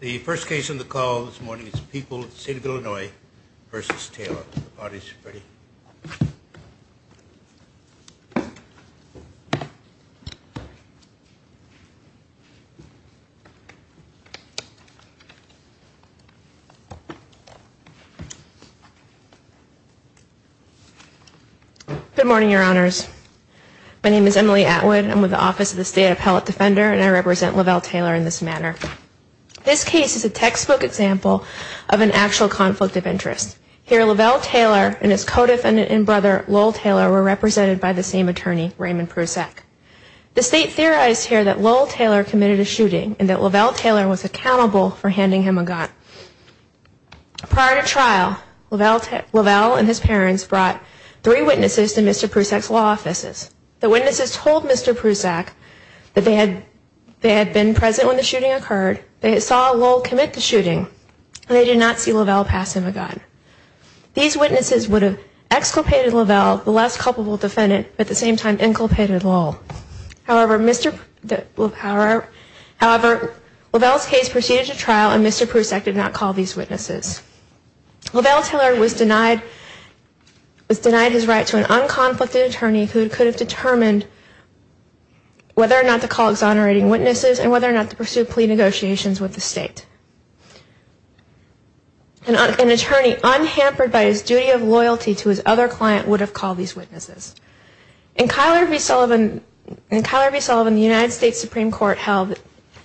The first case on the call this morning is People of the State of Illinois v. Taylor. Good morning, Your Honors. My name is Emily Atwood. I'm with the Office of the State Appellate Defender, and I represent Lavelle Taylor in this manner. This case is a textbook example of an actual conflict of interest. Here, Lavelle Taylor and his co-defendant and brother Lowell Taylor were represented by the same attorney, Raymond Prusak. The State theorized here that Lowell Taylor committed a shooting and that Lavelle Taylor was accountable for handing him a gun. Prior to trial, Lavelle and his parents brought three witnesses to Mr. Prusak's law offices. The witnesses told Mr. Prusak that they had been present when the shooting occurred. They saw Lowell commit the shooting, and they did not see Lavelle pass him a gun. These witnesses would have exculpated Lavelle, the less culpable defendant, but at the same time inculpated Lowell. However, Lavelle's case proceeded to trial, and Mr. Prusak did not call these witnesses. Lavelle Taylor was denied his right to an unconflicted attorney who could have determined whether or not to call exonerating witnesses and whether or not to pursue plea negotiations with the State. An attorney unhampered by his duty of loyalty to his other client would have called these witnesses. In Cuyler v. Sullivan, the United States Supreme Court held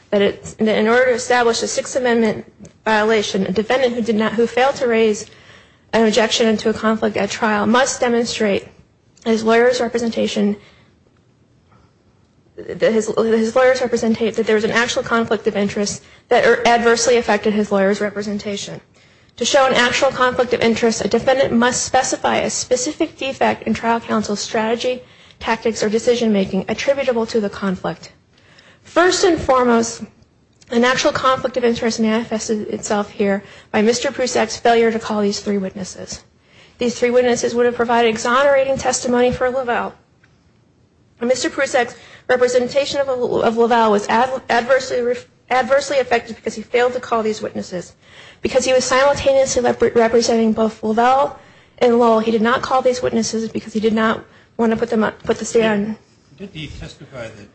that in order to establish a Sixth Amendment violation, a defendant who failed to raise an objection to a conflict at trial must demonstrate his lawyer's representation that there was an actual conflict of interest that adversely affected his lawyer's representation. To show an actual conflict of interest, a defendant must specify a specific defect in trial counsel's strategy, tactics, or decision-making attributable to the conflict. First and foremost, an actual conflict of interest manifested itself here by Mr. Prusak's failure to call these three witnesses. These three witnesses would have provided exonerating testimony for Lavelle. Mr. Prusak's representation of Lavelle was adversely affected because he failed to call these witnesses. Because he was simultaneously representing both Lavelle and Lowell, he did not call these witnesses because he did not want to put the stand. Did he testify that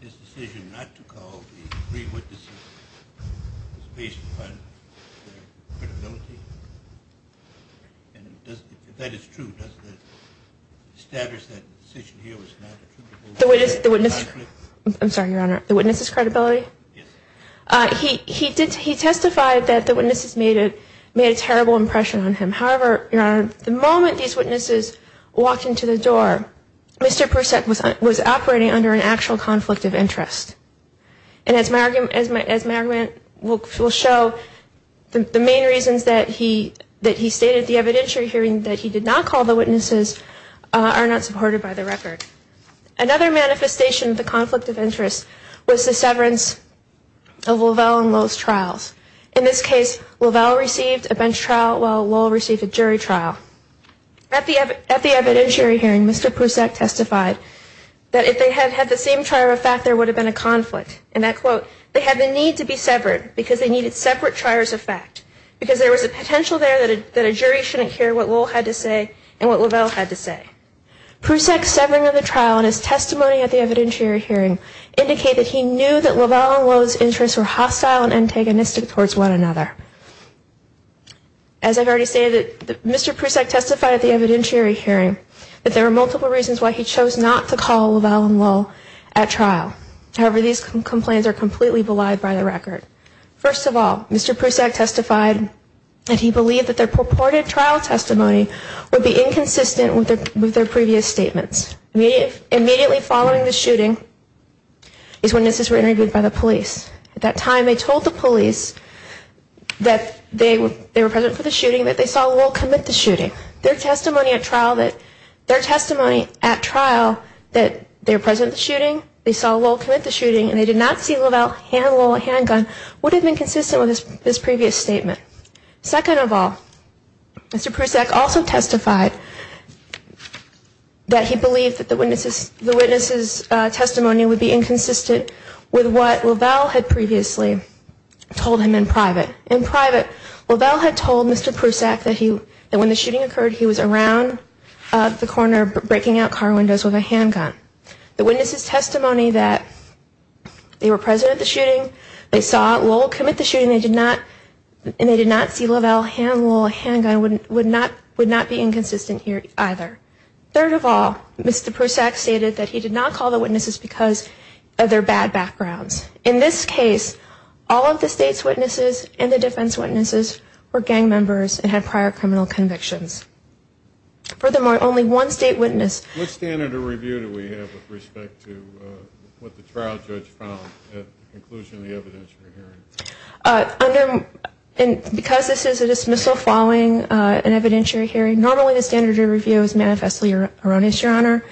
his decision not to call these three witnesses was based upon their credibility? If that is true, does that establish that the decision here was not attributable to the conflict? I'm sorry, Your Honor. The witness's credibility? Yes. He testified that the witnesses made a terrible impression on him. However, Your Honor, the moment these witnesses walked into the door, Mr. Prusak was operating under an actual conflict of interest. And as my argument will show, the main reasons that he stated the evidentiary hearing that he did not call the witnesses are not supported by the record. Another manifestation of the conflict of interest was the severance of Lavelle and Lowell's trials. In this case, Lavelle received a bench trial while Lowell received a jury trial. At the evidentiary hearing, Mr. Prusak testified that if they had had the same trier of fact, there would have been a conflict. In that quote, they had the need to be severed because they needed separate triers of fact. Because there was a potential there that a jury shouldn't hear what Lowell had to say and what Lavelle had to say. Prusak's severing of the trial in his testimony at the evidentiary hearing indicated he knew that Lavelle and Lowell's interests were hostile and antagonistic towards one another. As I've already stated, Mr. Prusak testified at the evidentiary hearing that there were multiple reasons why he chose not to call Lavelle and Lowell at trial. However, these complaints are completely belied by the record. First of all, Mr. Prusak testified that he believed that their purported trial testimony would be inconsistent with their previous statements. Immediately following the shooting is when this was interviewed by the police. At that time, they told the police that they were present for the shooting, that they saw Lowell commit the shooting. Their testimony at trial that they were present at the shooting, they saw Lowell commit the shooting, and they did not see Lavelle handle a handgun would have been consistent with his previous statement. Second of all, Mr. Prusak also testified that he believed that the witness's testimony would be inconsistent with what Lavelle had previously told him in private. In private, Lavelle had told Mr. Prusak that when the shooting occurred, he was around the corner breaking out car windows with a handgun. The witness's testimony that they were present at the shooting, they saw Lowell commit the shooting, and they did not see Lavelle handle a handgun, would not be inconsistent here either. Third of all, Mr. Prusak stated that he did not call the witnesses because of their bad backgrounds. In this case, all of the state's witnesses and the defense witnesses were gang members and had prior criminal convictions. Furthermore, only one state witness... What standard of review do we have with respect to what the trial judge found at the conclusion of the evidence we're hearing? Because this is a dismissal following an evidentiary hearing, normally the standard of review is manifestly erroneous, Your Honor.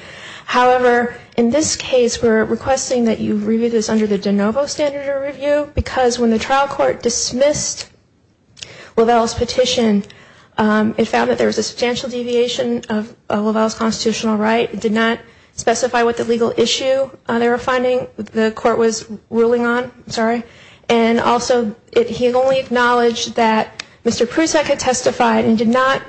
However, in this case, we're requesting that you review this under the de novo standard of review, because when the trial court dismissed Lavelle's petition, it found that there was a substantial deviation of Lavelle's constitutional right. It did not specify what the legal issue they were finding the court was ruling on. And also, he only acknowledged that Mr. Prusak had testified and did not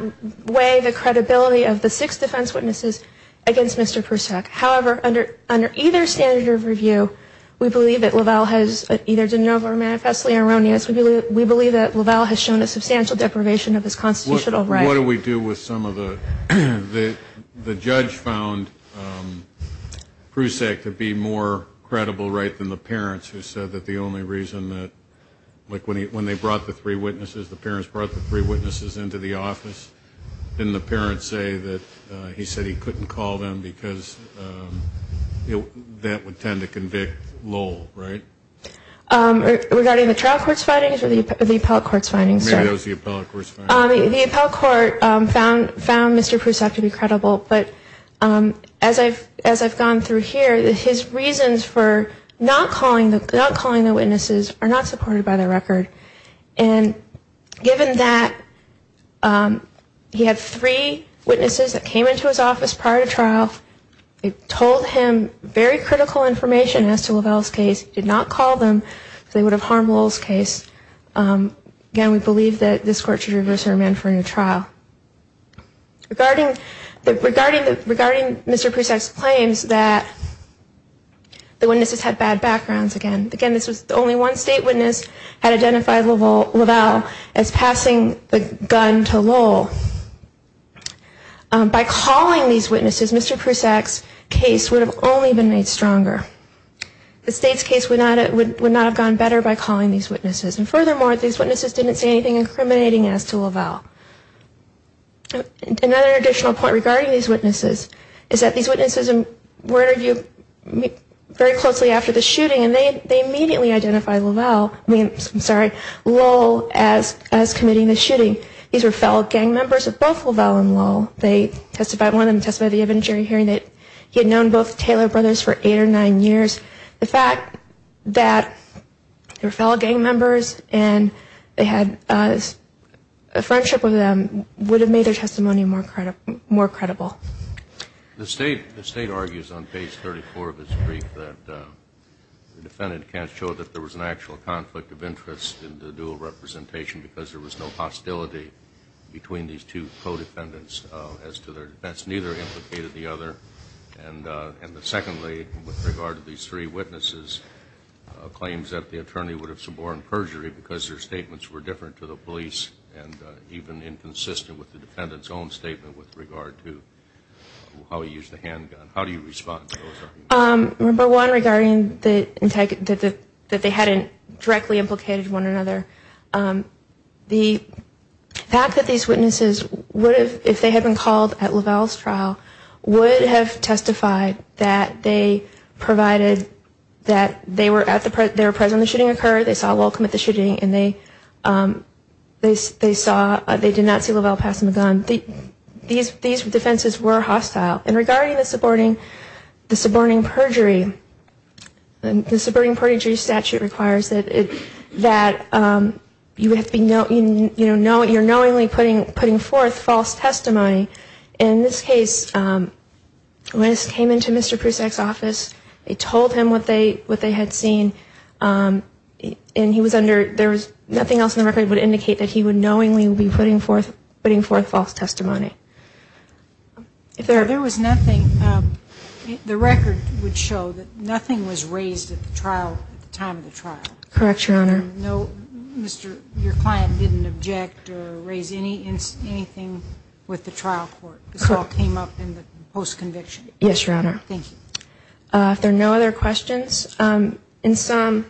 weigh the credibility of the six defense witnesses against Mr. Prusak. However, under either standard of review, we believe that Lavelle has either de novo or manifestly erroneous. We believe that Lavelle has shown a substantial deprivation of his constitutional right. What do we do with some of the... The judge found Prusak to be more credible right than the parents, who said that the only reason that, like, when they brought the three witnesses, the parents brought the three witnesses into the office, didn't the parents say that he said he couldn't call them because that would tend to convict Lowell, right? Regarding the trial court's findings or the appellate court's findings? The appellate court found Mr. Prusak to be credible, but as I've gone through here, his reasons for not calling the witnesses are not supported by the record. And given that he had three witnesses that came into his office prior to trial, they told him very critical information as to Lavelle's case, did not call them because they would have harmed Lowell's case. Again, we believe that this court should reverse their amendment for a new trial. Regarding Mr. Prusak's claims that the witnesses had bad backgrounds, again, this was the only one state witness had identified Lavelle as passing the gun to Lowell. By calling these witnesses, Mr. Prusak's case would have only been made stronger. The state's case would not have gone better by calling these witnesses. And furthermore, these witnesses didn't say anything incriminating as to Lavelle. Another additional point regarding these witnesses is that these witnesses were interviewed very closely after the shooting and they immediately identified Lavelle, I'm sorry, Lowell as committing the shooting. These were fellow gang members of both Lavelle and Lowell. They testified, one of them testified at the evidentiary hearing that he had known both Taylor brothers for eight or nine years. The fact that they were fellow gang members and they had a friendship with them would have made their testimony more credible. The state argues on page 34 of its brief that the defendant can't show that there was an actual conflict of interest in the dual representation because there was no hostility between these two co-defendants as to their defense, neither implicated the other. And secondly, with regard to these three witnesses, claims that the attorney would have suborned perjury because their statements were different to the police and even inconsistent with the defendant's own statement with regard to how he used the handgun. How do you respond? Number one, regarding that they hadn't directly implicated one another, the fact that these witnesses would have, if they had been called at Lavelle's trial, would have testified that they provided that they were present when the shooting occurred, they saw Lowell commit the shooting, and they did not see Lavelle pass him a gun. These defenses were hostile. And regarding the suborning perjury, the suborning perjury statute requires that you're knowingly putting forth false testimony. In this case, when this came into Mr. Prusak's office, they told him what they had seen, and he was under, there was nothing else in the record that would indicate that he would knowingly be putting forth false testimony. If there was nothing, the record would show that nothing was raised at the time of the trial. Correct, Your Honor. Your client didn't object or raise anything with the trial court. This all came up in the post-conviction. Yes, Your Honor. Thank you. If there are no other questions, in sum,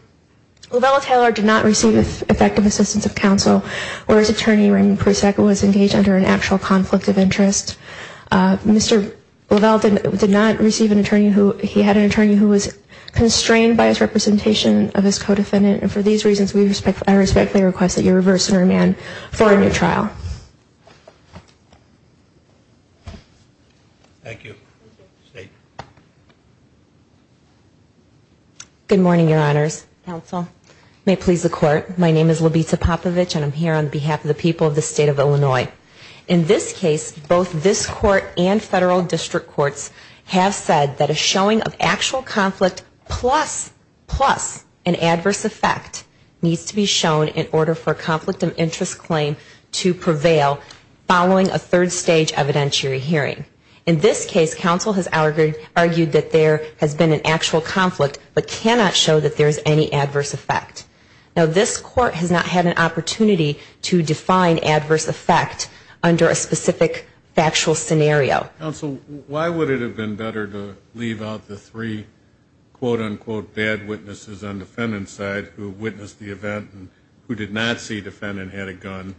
Lavelle Taylor did not receive effective assistance of counsel, or his attorney Raymond Prusak was engaged under an actual conflict of interest. Mr. Lavelle did not receive an attorney who, he had an attorney who was constrained by his representation of his co-defendant, and for these reasons, I respectfully request that you reverse and remand for a new trial. Thank you. Good morning, Your Honors. Counsel, may it please the Court, my name is Labita Popovich, and I'm here on behalf of the people of the State of Illinois. In this case, both this Court and federal district courts have said that a showing of actual conflict plus an adverse effect needs to be shown in order for a conflict of interest claim to prevail following a third stage evidentiary hearing. In this case, counsel has argued that there has been an actual conflict, but cannot show that there is any adverse effect. Now, this Court has not had an opportunity to define adverse effect under a specific factual scenario. Counsel, why would it have been better to leave out the three, quote, unquote, bad witnesses on defendant's side who witnessed the event and who did not see defendant had a gun,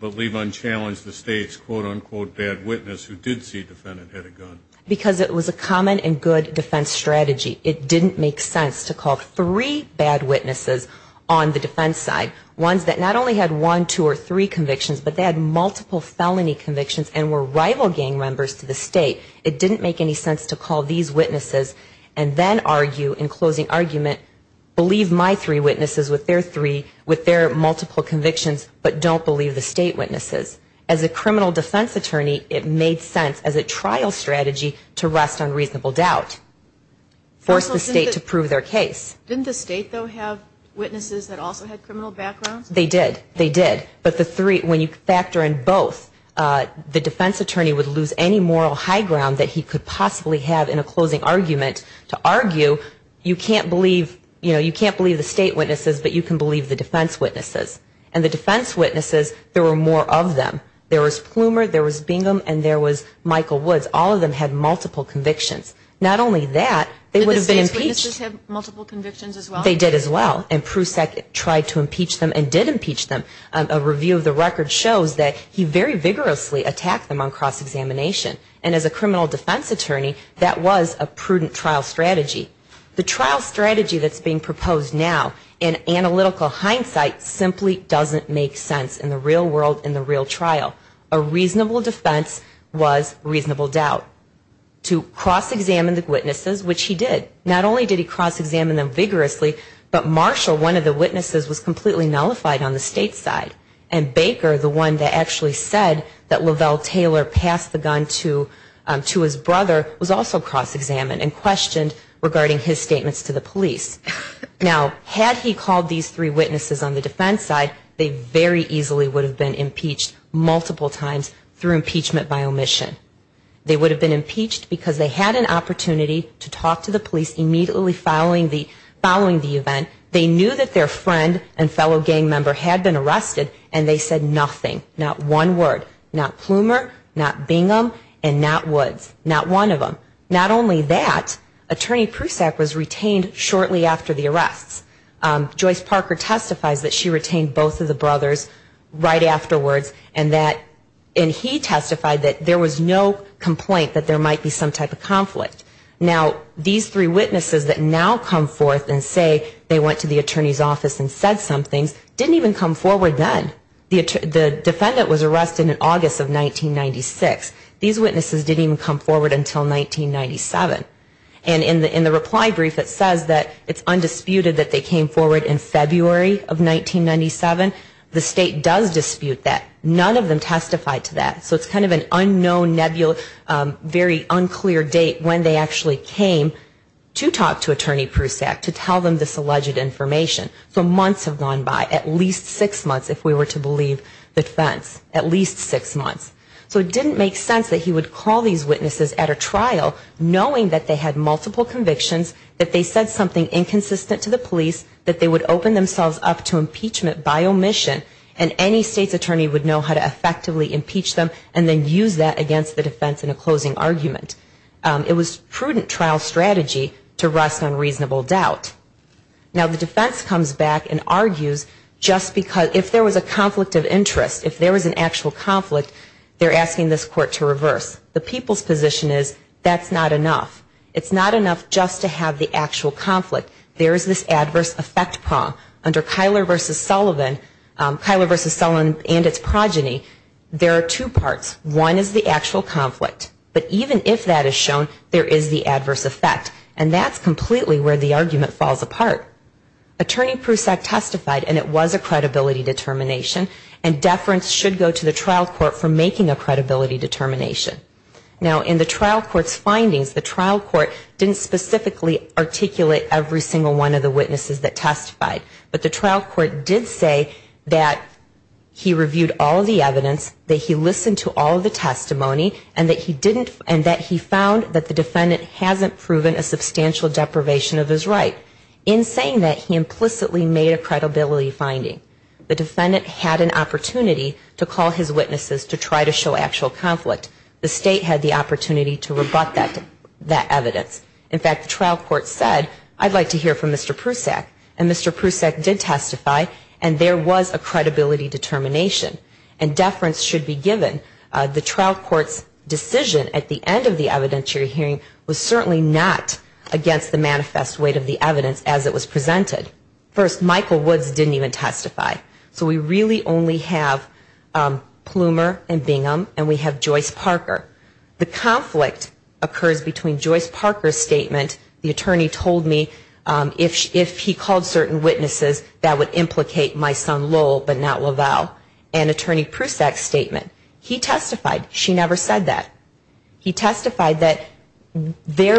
but leave unchallenged the State's, quote, unquote, bad witness who did see defendant had a gun? Because it was a common and good defense strategy. It didn't make sense to call three bad witnesses on the defense side, ones that not only had one, two, or three convictions, but they had multiple felony convictions and were rival gang members to the State. It didn't make any sense to call these witnesses and then argue in closing argument, believe my three witnesses with their three, with their multiple convictions, but don't believe the State witnesses. As a criminal defense attorney, it made sense as a trial strategy to rest on reasonable doubt. Force the State to prove their case. Didn't the State, though, have witnesses that also had criminal backgrounds? They did, they did, but the three, when you factor in both, the defense attorney would lose any moral high ground that he could possibly have in a closing argument to argue, you can't believe, you know, you can't believe the State witnesses, but you can believe the defense witnesses. And the defense witnesses, there were more of them. There was Plumer, there was Bingham, and there was Michael Woods. All of them had multiple convictions. Not only that, they would have been impeached. They did as well, and Prusak tried to impeach them and did impeach them. A review of the record shows that he very vigorously attacked them on cross-examination, and as a criminal defense attorney, that was a prudent trial strategy. The trial strategy that's being proposed now, in analytical hindsight, simply doesn't make sense in the real world, in the real trial. A reasonable defense was reasonable doubt. To cross-examine the witnesses, which he did, not only did he cross-examine them vigorously, but Marshall, one of the witnesses, was completely nullified on the State's side, and Baker, the one that actually said that Lavelle Taylor passed the gun to his brother, was also cross-examined and questioned regarding his statements to the police. Now, had he called these three witnesses on the defense side, they very easily would have been impeached multiple times through impeachment by omission. They would have been impeached because they had an opportunity to talk to the police immediately following the event. They knew that their friend and fellow gang member had been arrested, and they said nothing, not one word, not Plumer, not Bingham, and not Woods, not one of them. Not only that, Attorney Prusak was retained shortly after the arrests. Joyce Parker testifies that she retained both of the brothers right afterwards, and he testified that there was no complaint that there might be some type of conflict. Now, these three witnesses that now come forth and say they went to the attorney's office and said some things didn't even come forward then. The defendant was arrested in August of 1996. These witnesses didn't even come forward until 1997, and in the reply brief it says that it's undisputed that they came forward in February of 1997. The state does dispute that. None of them testified to that. So it's kind of an unknown, very unclear date when they actually came to talk to Attorney Prusak to tell them this alleged information. So months have gone by, at least six months if we were to believe the defense, at least six months. So it didn't make sense that he would call these witnesses at a trial knowing that they had multiple convictions, that they said something inconsistent to the police, that they would open themselves up to impeachment by omission, and any state's attorney would know how to effectively impeach them and then use that against the defense in a closing argument. It was prudent trial strategy to rest on reasonable doubt. Now, the defense comes back and argues just because if there was a conflict of interest, if there was an actual conflict, they're asking this court to reverse. The people's position is that's not enough. It's not enough just to have the actual conflict. There is this adverse effect prong. Under Kyler v. Sullivan and its progeny, there are two parts. One is the actual conflict, but even if that is shown, there is the adverse effect, and that's completely where the argument falls apart. Attorney Prusak testified, and it was a credibility determination, and deference should go to the trial court for making a credibility determination. Now, in the trial court's findings, the trial court didn't specifically articulate every single one of the witnesses that testified, but the trial court did say that he reviewed all of the evidence, that he listened to all of the testimony, and that he found that the defendant hasn't proven a substantial deprivation of his right. In saying that, he implicitly made a credibility finding. The defendant had an opportunity to call his witnesses to try to show actual conflict. The state had the opportunity to rebut that evidence. In fact, the trial court said, I'd like to hear from Mr. Prusak, and Mr. Prusak did testify, and there was a credibility determination, and deference should be given. The trial court's decision at the end of the evidentiary hearing was certainly not against the manifest weight of the evidence as it was presented. First, Michael Woods didn't even testify. So we really only have Plumer and Bingham, and we have Joyce Parker. The conflict occurs between Joyce Parker's statement, the attorney told me if he called certain witnesses, that would implicate my son Lowell, but not LaValle, and Attorney Prusak's statement. He testified. She never said that. He testified that the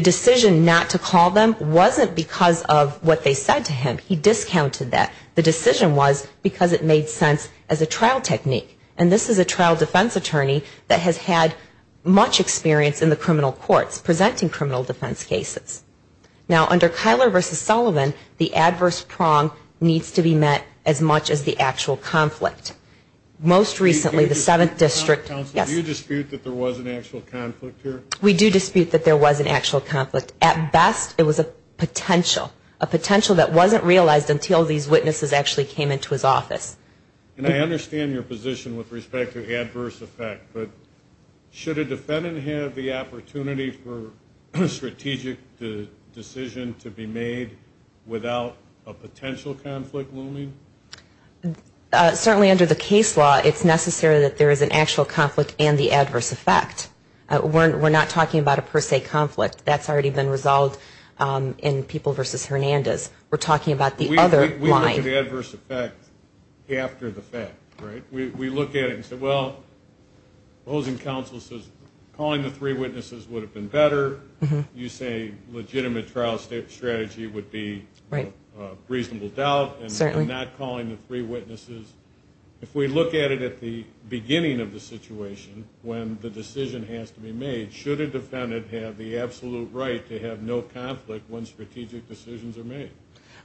decision not to call them wasn't because of what they said to him. He discounted that. The decision was because it made sense as a trial technique. And this is a trial defense attorney that has had much experience in the criminal courts presenting criminal defense cases. Now, under Kyler v. Sullivan, the adverse prong needs to be met as much as the actual conflict. Most recently, the 7th District... We do dispute that there was an actual conflict here. At best, it was a potential, a potential that wasn't realized until these witnesses actually came into his office. And I understand your position with respect to adverse effect, but should a defendant have the opportunity for strategic decision to be made without a potential conflict looming? Certainly under the case law, it's necessary that there is an actual conflict and the adverse effect. We're not talking about a per se conflict. That's already been resolved in People v. Hernandez. We're talking about the other line. We look at the adverse effect after the fact, right? We look at it and say, well, opposing counsel says calling the three witnesses would have been better. You say legitimate trial strategy would be reasonable doubt and not calling the three witnesses. If we look at it at the beginning of the situation when the decision has to be made, should a defendant have the absolute right to have no conflict when strategic decisions are made?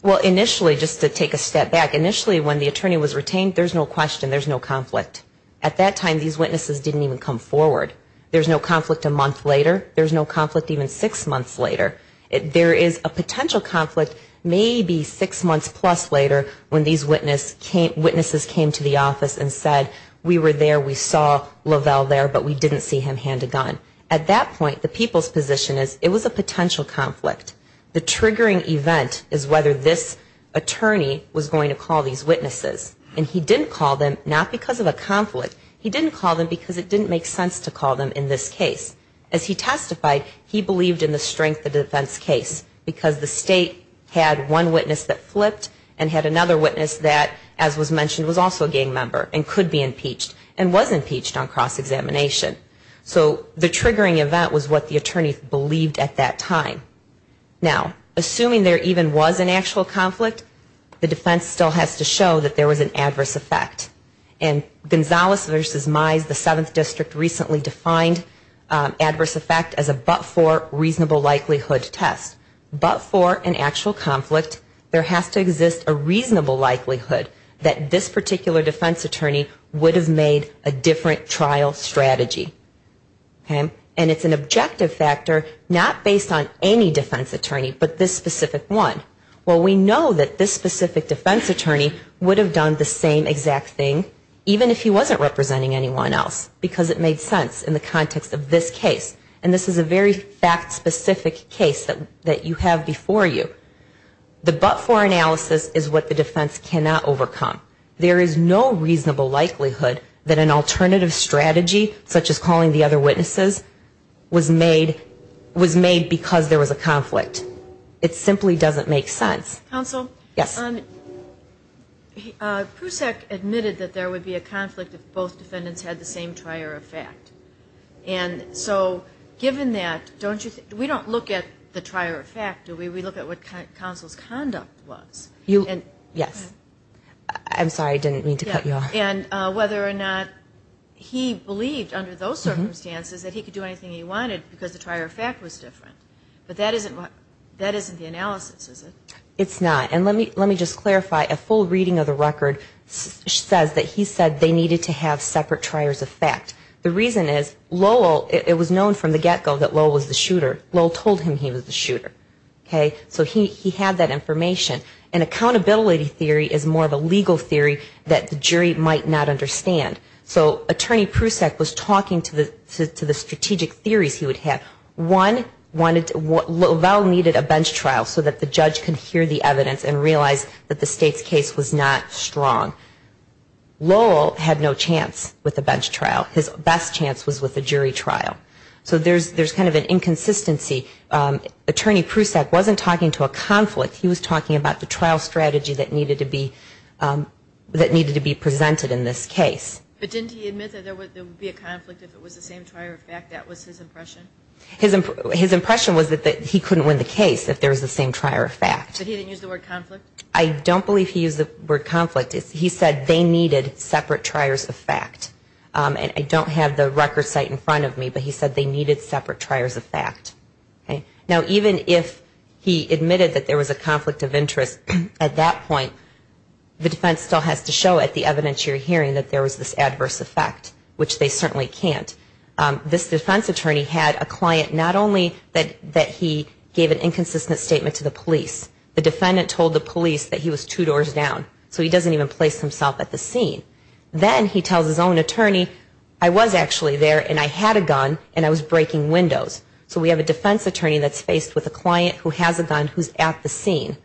Well, initially, just to take a step back, initially when the attorney was retained, there's no question, there's no conflict. At that time, these witnesses didn't even come forward. There's no conflict a month later, there's no conflict even six months later. There is a potential conflict maybe six months plus later when these witnesses came to the office and said, we were there, we saw Lavelle there, but we didn't see him hand a gun. At that point, the people's position is it was a potential conflict. The triggering event is whether this attorney was going to call these witnesses. And he didn't call them not because of a conflict, he didn't call them because it didn't make sense to call them in this case. As he testified, he believed in the strength of the defense case because the state had one witness that flipped and had another witness that, as was mentioned, was also a gang member and could be impeached and was impeached on cross-examination. So the triggering event was what the attorney believed at that time. Now, assuming there even was an actual conflict, the defense still has to show that there was an adverse effect. And Gonzales v. Mize, the 7th District, recently defined adverse effect as a but-for reasonable likelihood test. But for an actual conflict, there has to exist a reasonable likelihood that this particular defense attorney would have made a different trial strategy. And it's an objective factor not based on any defense attorney, but this specific one. Well, we know that this specific defense attorney would have done the same exact thing even if he wasn't representing anyone else because it made sense in the context of this case. And this is a very fact-specific case that you have before you. The but-for analysis is what the defense cannot overcome. And the fact that he was calling the other witnesses was made because there was a conflict. It simply doesn't make sense. Counsel, Prusak admitted that there would be a conflict if both defendants had the same trier of fact. And so given that, we don't look at the trier of fact, do we? We look at what counsel's conduct was. Yes. I'm sorry, I didn't mean to cut you off. And whether or not he believed under those circumstances that he could do anything he wanted because the trier of fact was different. But that isn't the analysis, is it? It's not. And let me just clarify, a full reading of the record says that he said they needed to have separate triers of fact. The reason is Lowell, it was known from the get-go that Lowell was the shooter. Lowell told him he was the shooter. So he had that information. And accountability theory is more of a legal theory that the jury might not understand. So Attorney Prusak was talking to the strategic theories he would have. One, Lowell needed a bench trial so that the judge could hear the evidence and realize that the state's case was not strong. Lowell had no chance with a bench trial. His best chance was with a jury trial. So there's kind of an inconsistency. Attorney Prusak wasn't talking to a conflict. He was talking about the trial strategy that needed to be presented in this case. But didn't he admit that there would be a conflict if it was the same trier of fact? That was his impression. His impression was that he couldn't win the case if there was the same trier of fact. So he didn't use the word conflict? I don't believe he used the word conflict. He said they needed separate triers of fact. And I don't have the record site in front of me, but he said they needed separate triers of fact. Now, even if he admitted that there was a conflict of interest at that point, the defense still has to show at the evidence you're hearing that there was this adverse effect, which they certainly can't. This defense attorney had a client not only that he gave an inconsistent statement to the police, the defendant told the police that he was two doors down, so he doesn't even place himself at the scene. Then he tells his own attorney, I was actually there and I had a gun and I was breaking windows. So we have a defense attorney that's faced with a client who has a gun who's at the scene.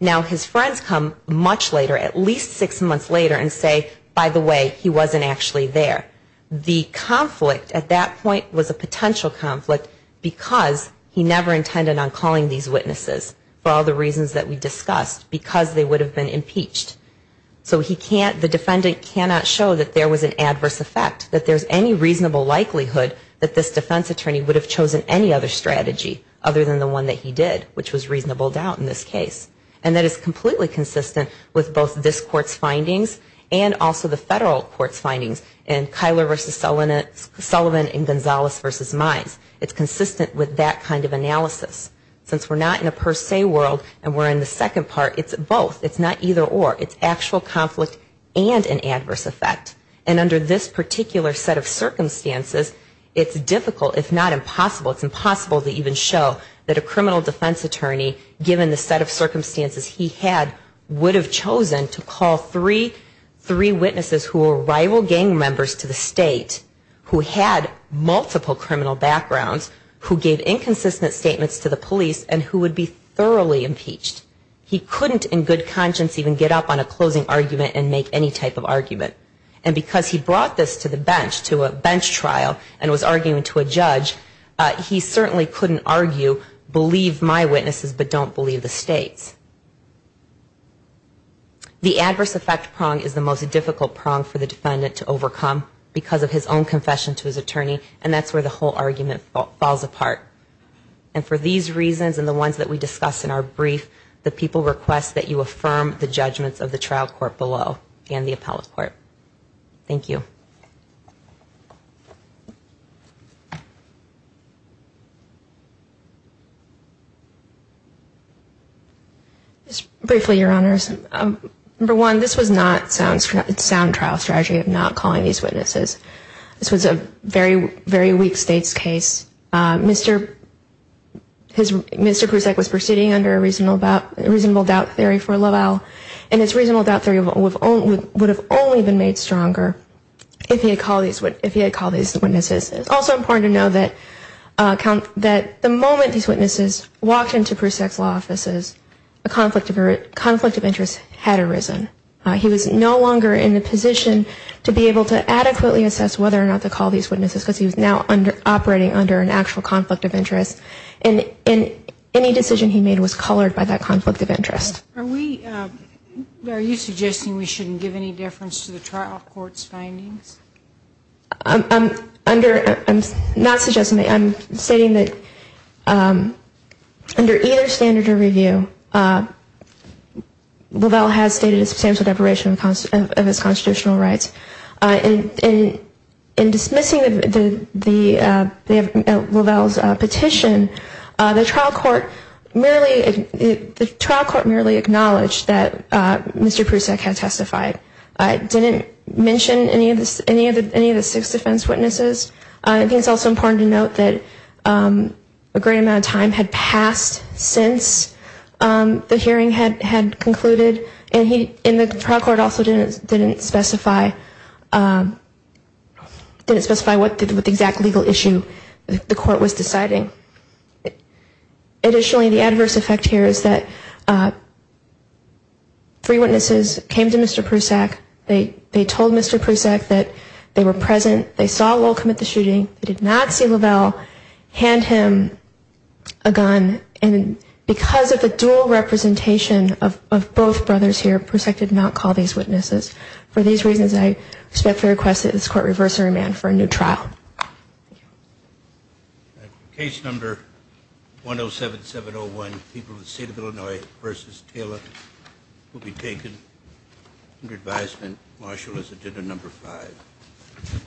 Now, his friends come much later, at least six months later and say, by the way, he wasn't actually there. The conflict at that point was a potential conflict because he never intended on calling these witnesses for all the reasons that we discussed, because they would have been impeached. So the defendant cannot show that there was an adverse effect, that there's any reasonable likelihood that this defense attorney would have chosen any other strategy other than the one that he did, which was reasonable doubt in this case. And that is completely consistent with both this court's findings and also the federal court's findings, and Kyler v. Sullivan and Gonzalez v. Mize. It's consistent with that kind of analysis. Since we're not in a per se world and we're in the second part, it's both. It's not either or. It's actual conflict and an adverse effect. And under this particular set of circumstances, it's difficult, if not impossible, it's impossible to even show that a criminal defense attorney, given the set of circumstances he had, would have chosen to call three witnesses who were rival gang members to the state, who had multiple criminal backgrounds, who gave inconsistent statements to the police and who would be thoroughly impeached. He would not, in his conscience, even get up on a closing argument and make any type of argument. And because he brought this to the bench, to a bench trial, and was arguing to a judge, he certainly couldn't argue, believe my witnesses but don't believe the state's. The adverse effect prong is the most difficult prong for the defendant to overcome because of his own confession to his attorney, and that's where the whole argument falls apart. And for these reasons and the ones that we discuss in our brief, the people request that you affirm the judgments of the trial court below and the appellate court. Thank you. Just briefly, Your Honors. Number one, this was not a sound trial strategy of not calling these witnesses. This was a very, very weak state's case. Mr. Prusak was proceeding under a reasonable doubt theory for LaValle, and his reasonable doubt theory would have only been made stronger if he had called these witnesses. It's also important to know that the moment these witnesses walked into Prusak's law offices, a conflict of interest had arisen. He was no longer in the position to be able to adequately assess whether or not to call these witnesses because he was now operating under an actual conflict of interest, and any decision he made was colored by that conflict of interest. Are we, are you suggesting we shouldn't give any difference to the trial court's findings? I'm under, I'm not suggesting, I'm stating that under either standard of review, LaValle has stated his position. I'm not suggesting that the trial court should be able to do that. I'm just saying that under either standard of review, LaValle has stated his position. In dismissing LaValle's petition, the trial court merely acknowledged that Mr. Prusak had testified. It didn't mention any of the six defense witnesses. I think it's also important to note that a great amount of time had passed since the hearing had concluded, and he, in the trial court also didn't specify, didn't specify what the exact legal issue the court was deciding. Additionally, the adverse effect here is that three witnesses came to Mr. Prusak. They told Mr. Prusak that they were present. They did not see LaValle, hand him a gun, and because of the dual representation of both brothers here, Prusak did not call these witnesses. For these reasons, I respectfully request that this court reverse the remand for a new trial. Case number 107701, People of the State of Illinois v. Taylor, will be taken under advisement. Marshal is agenda number five.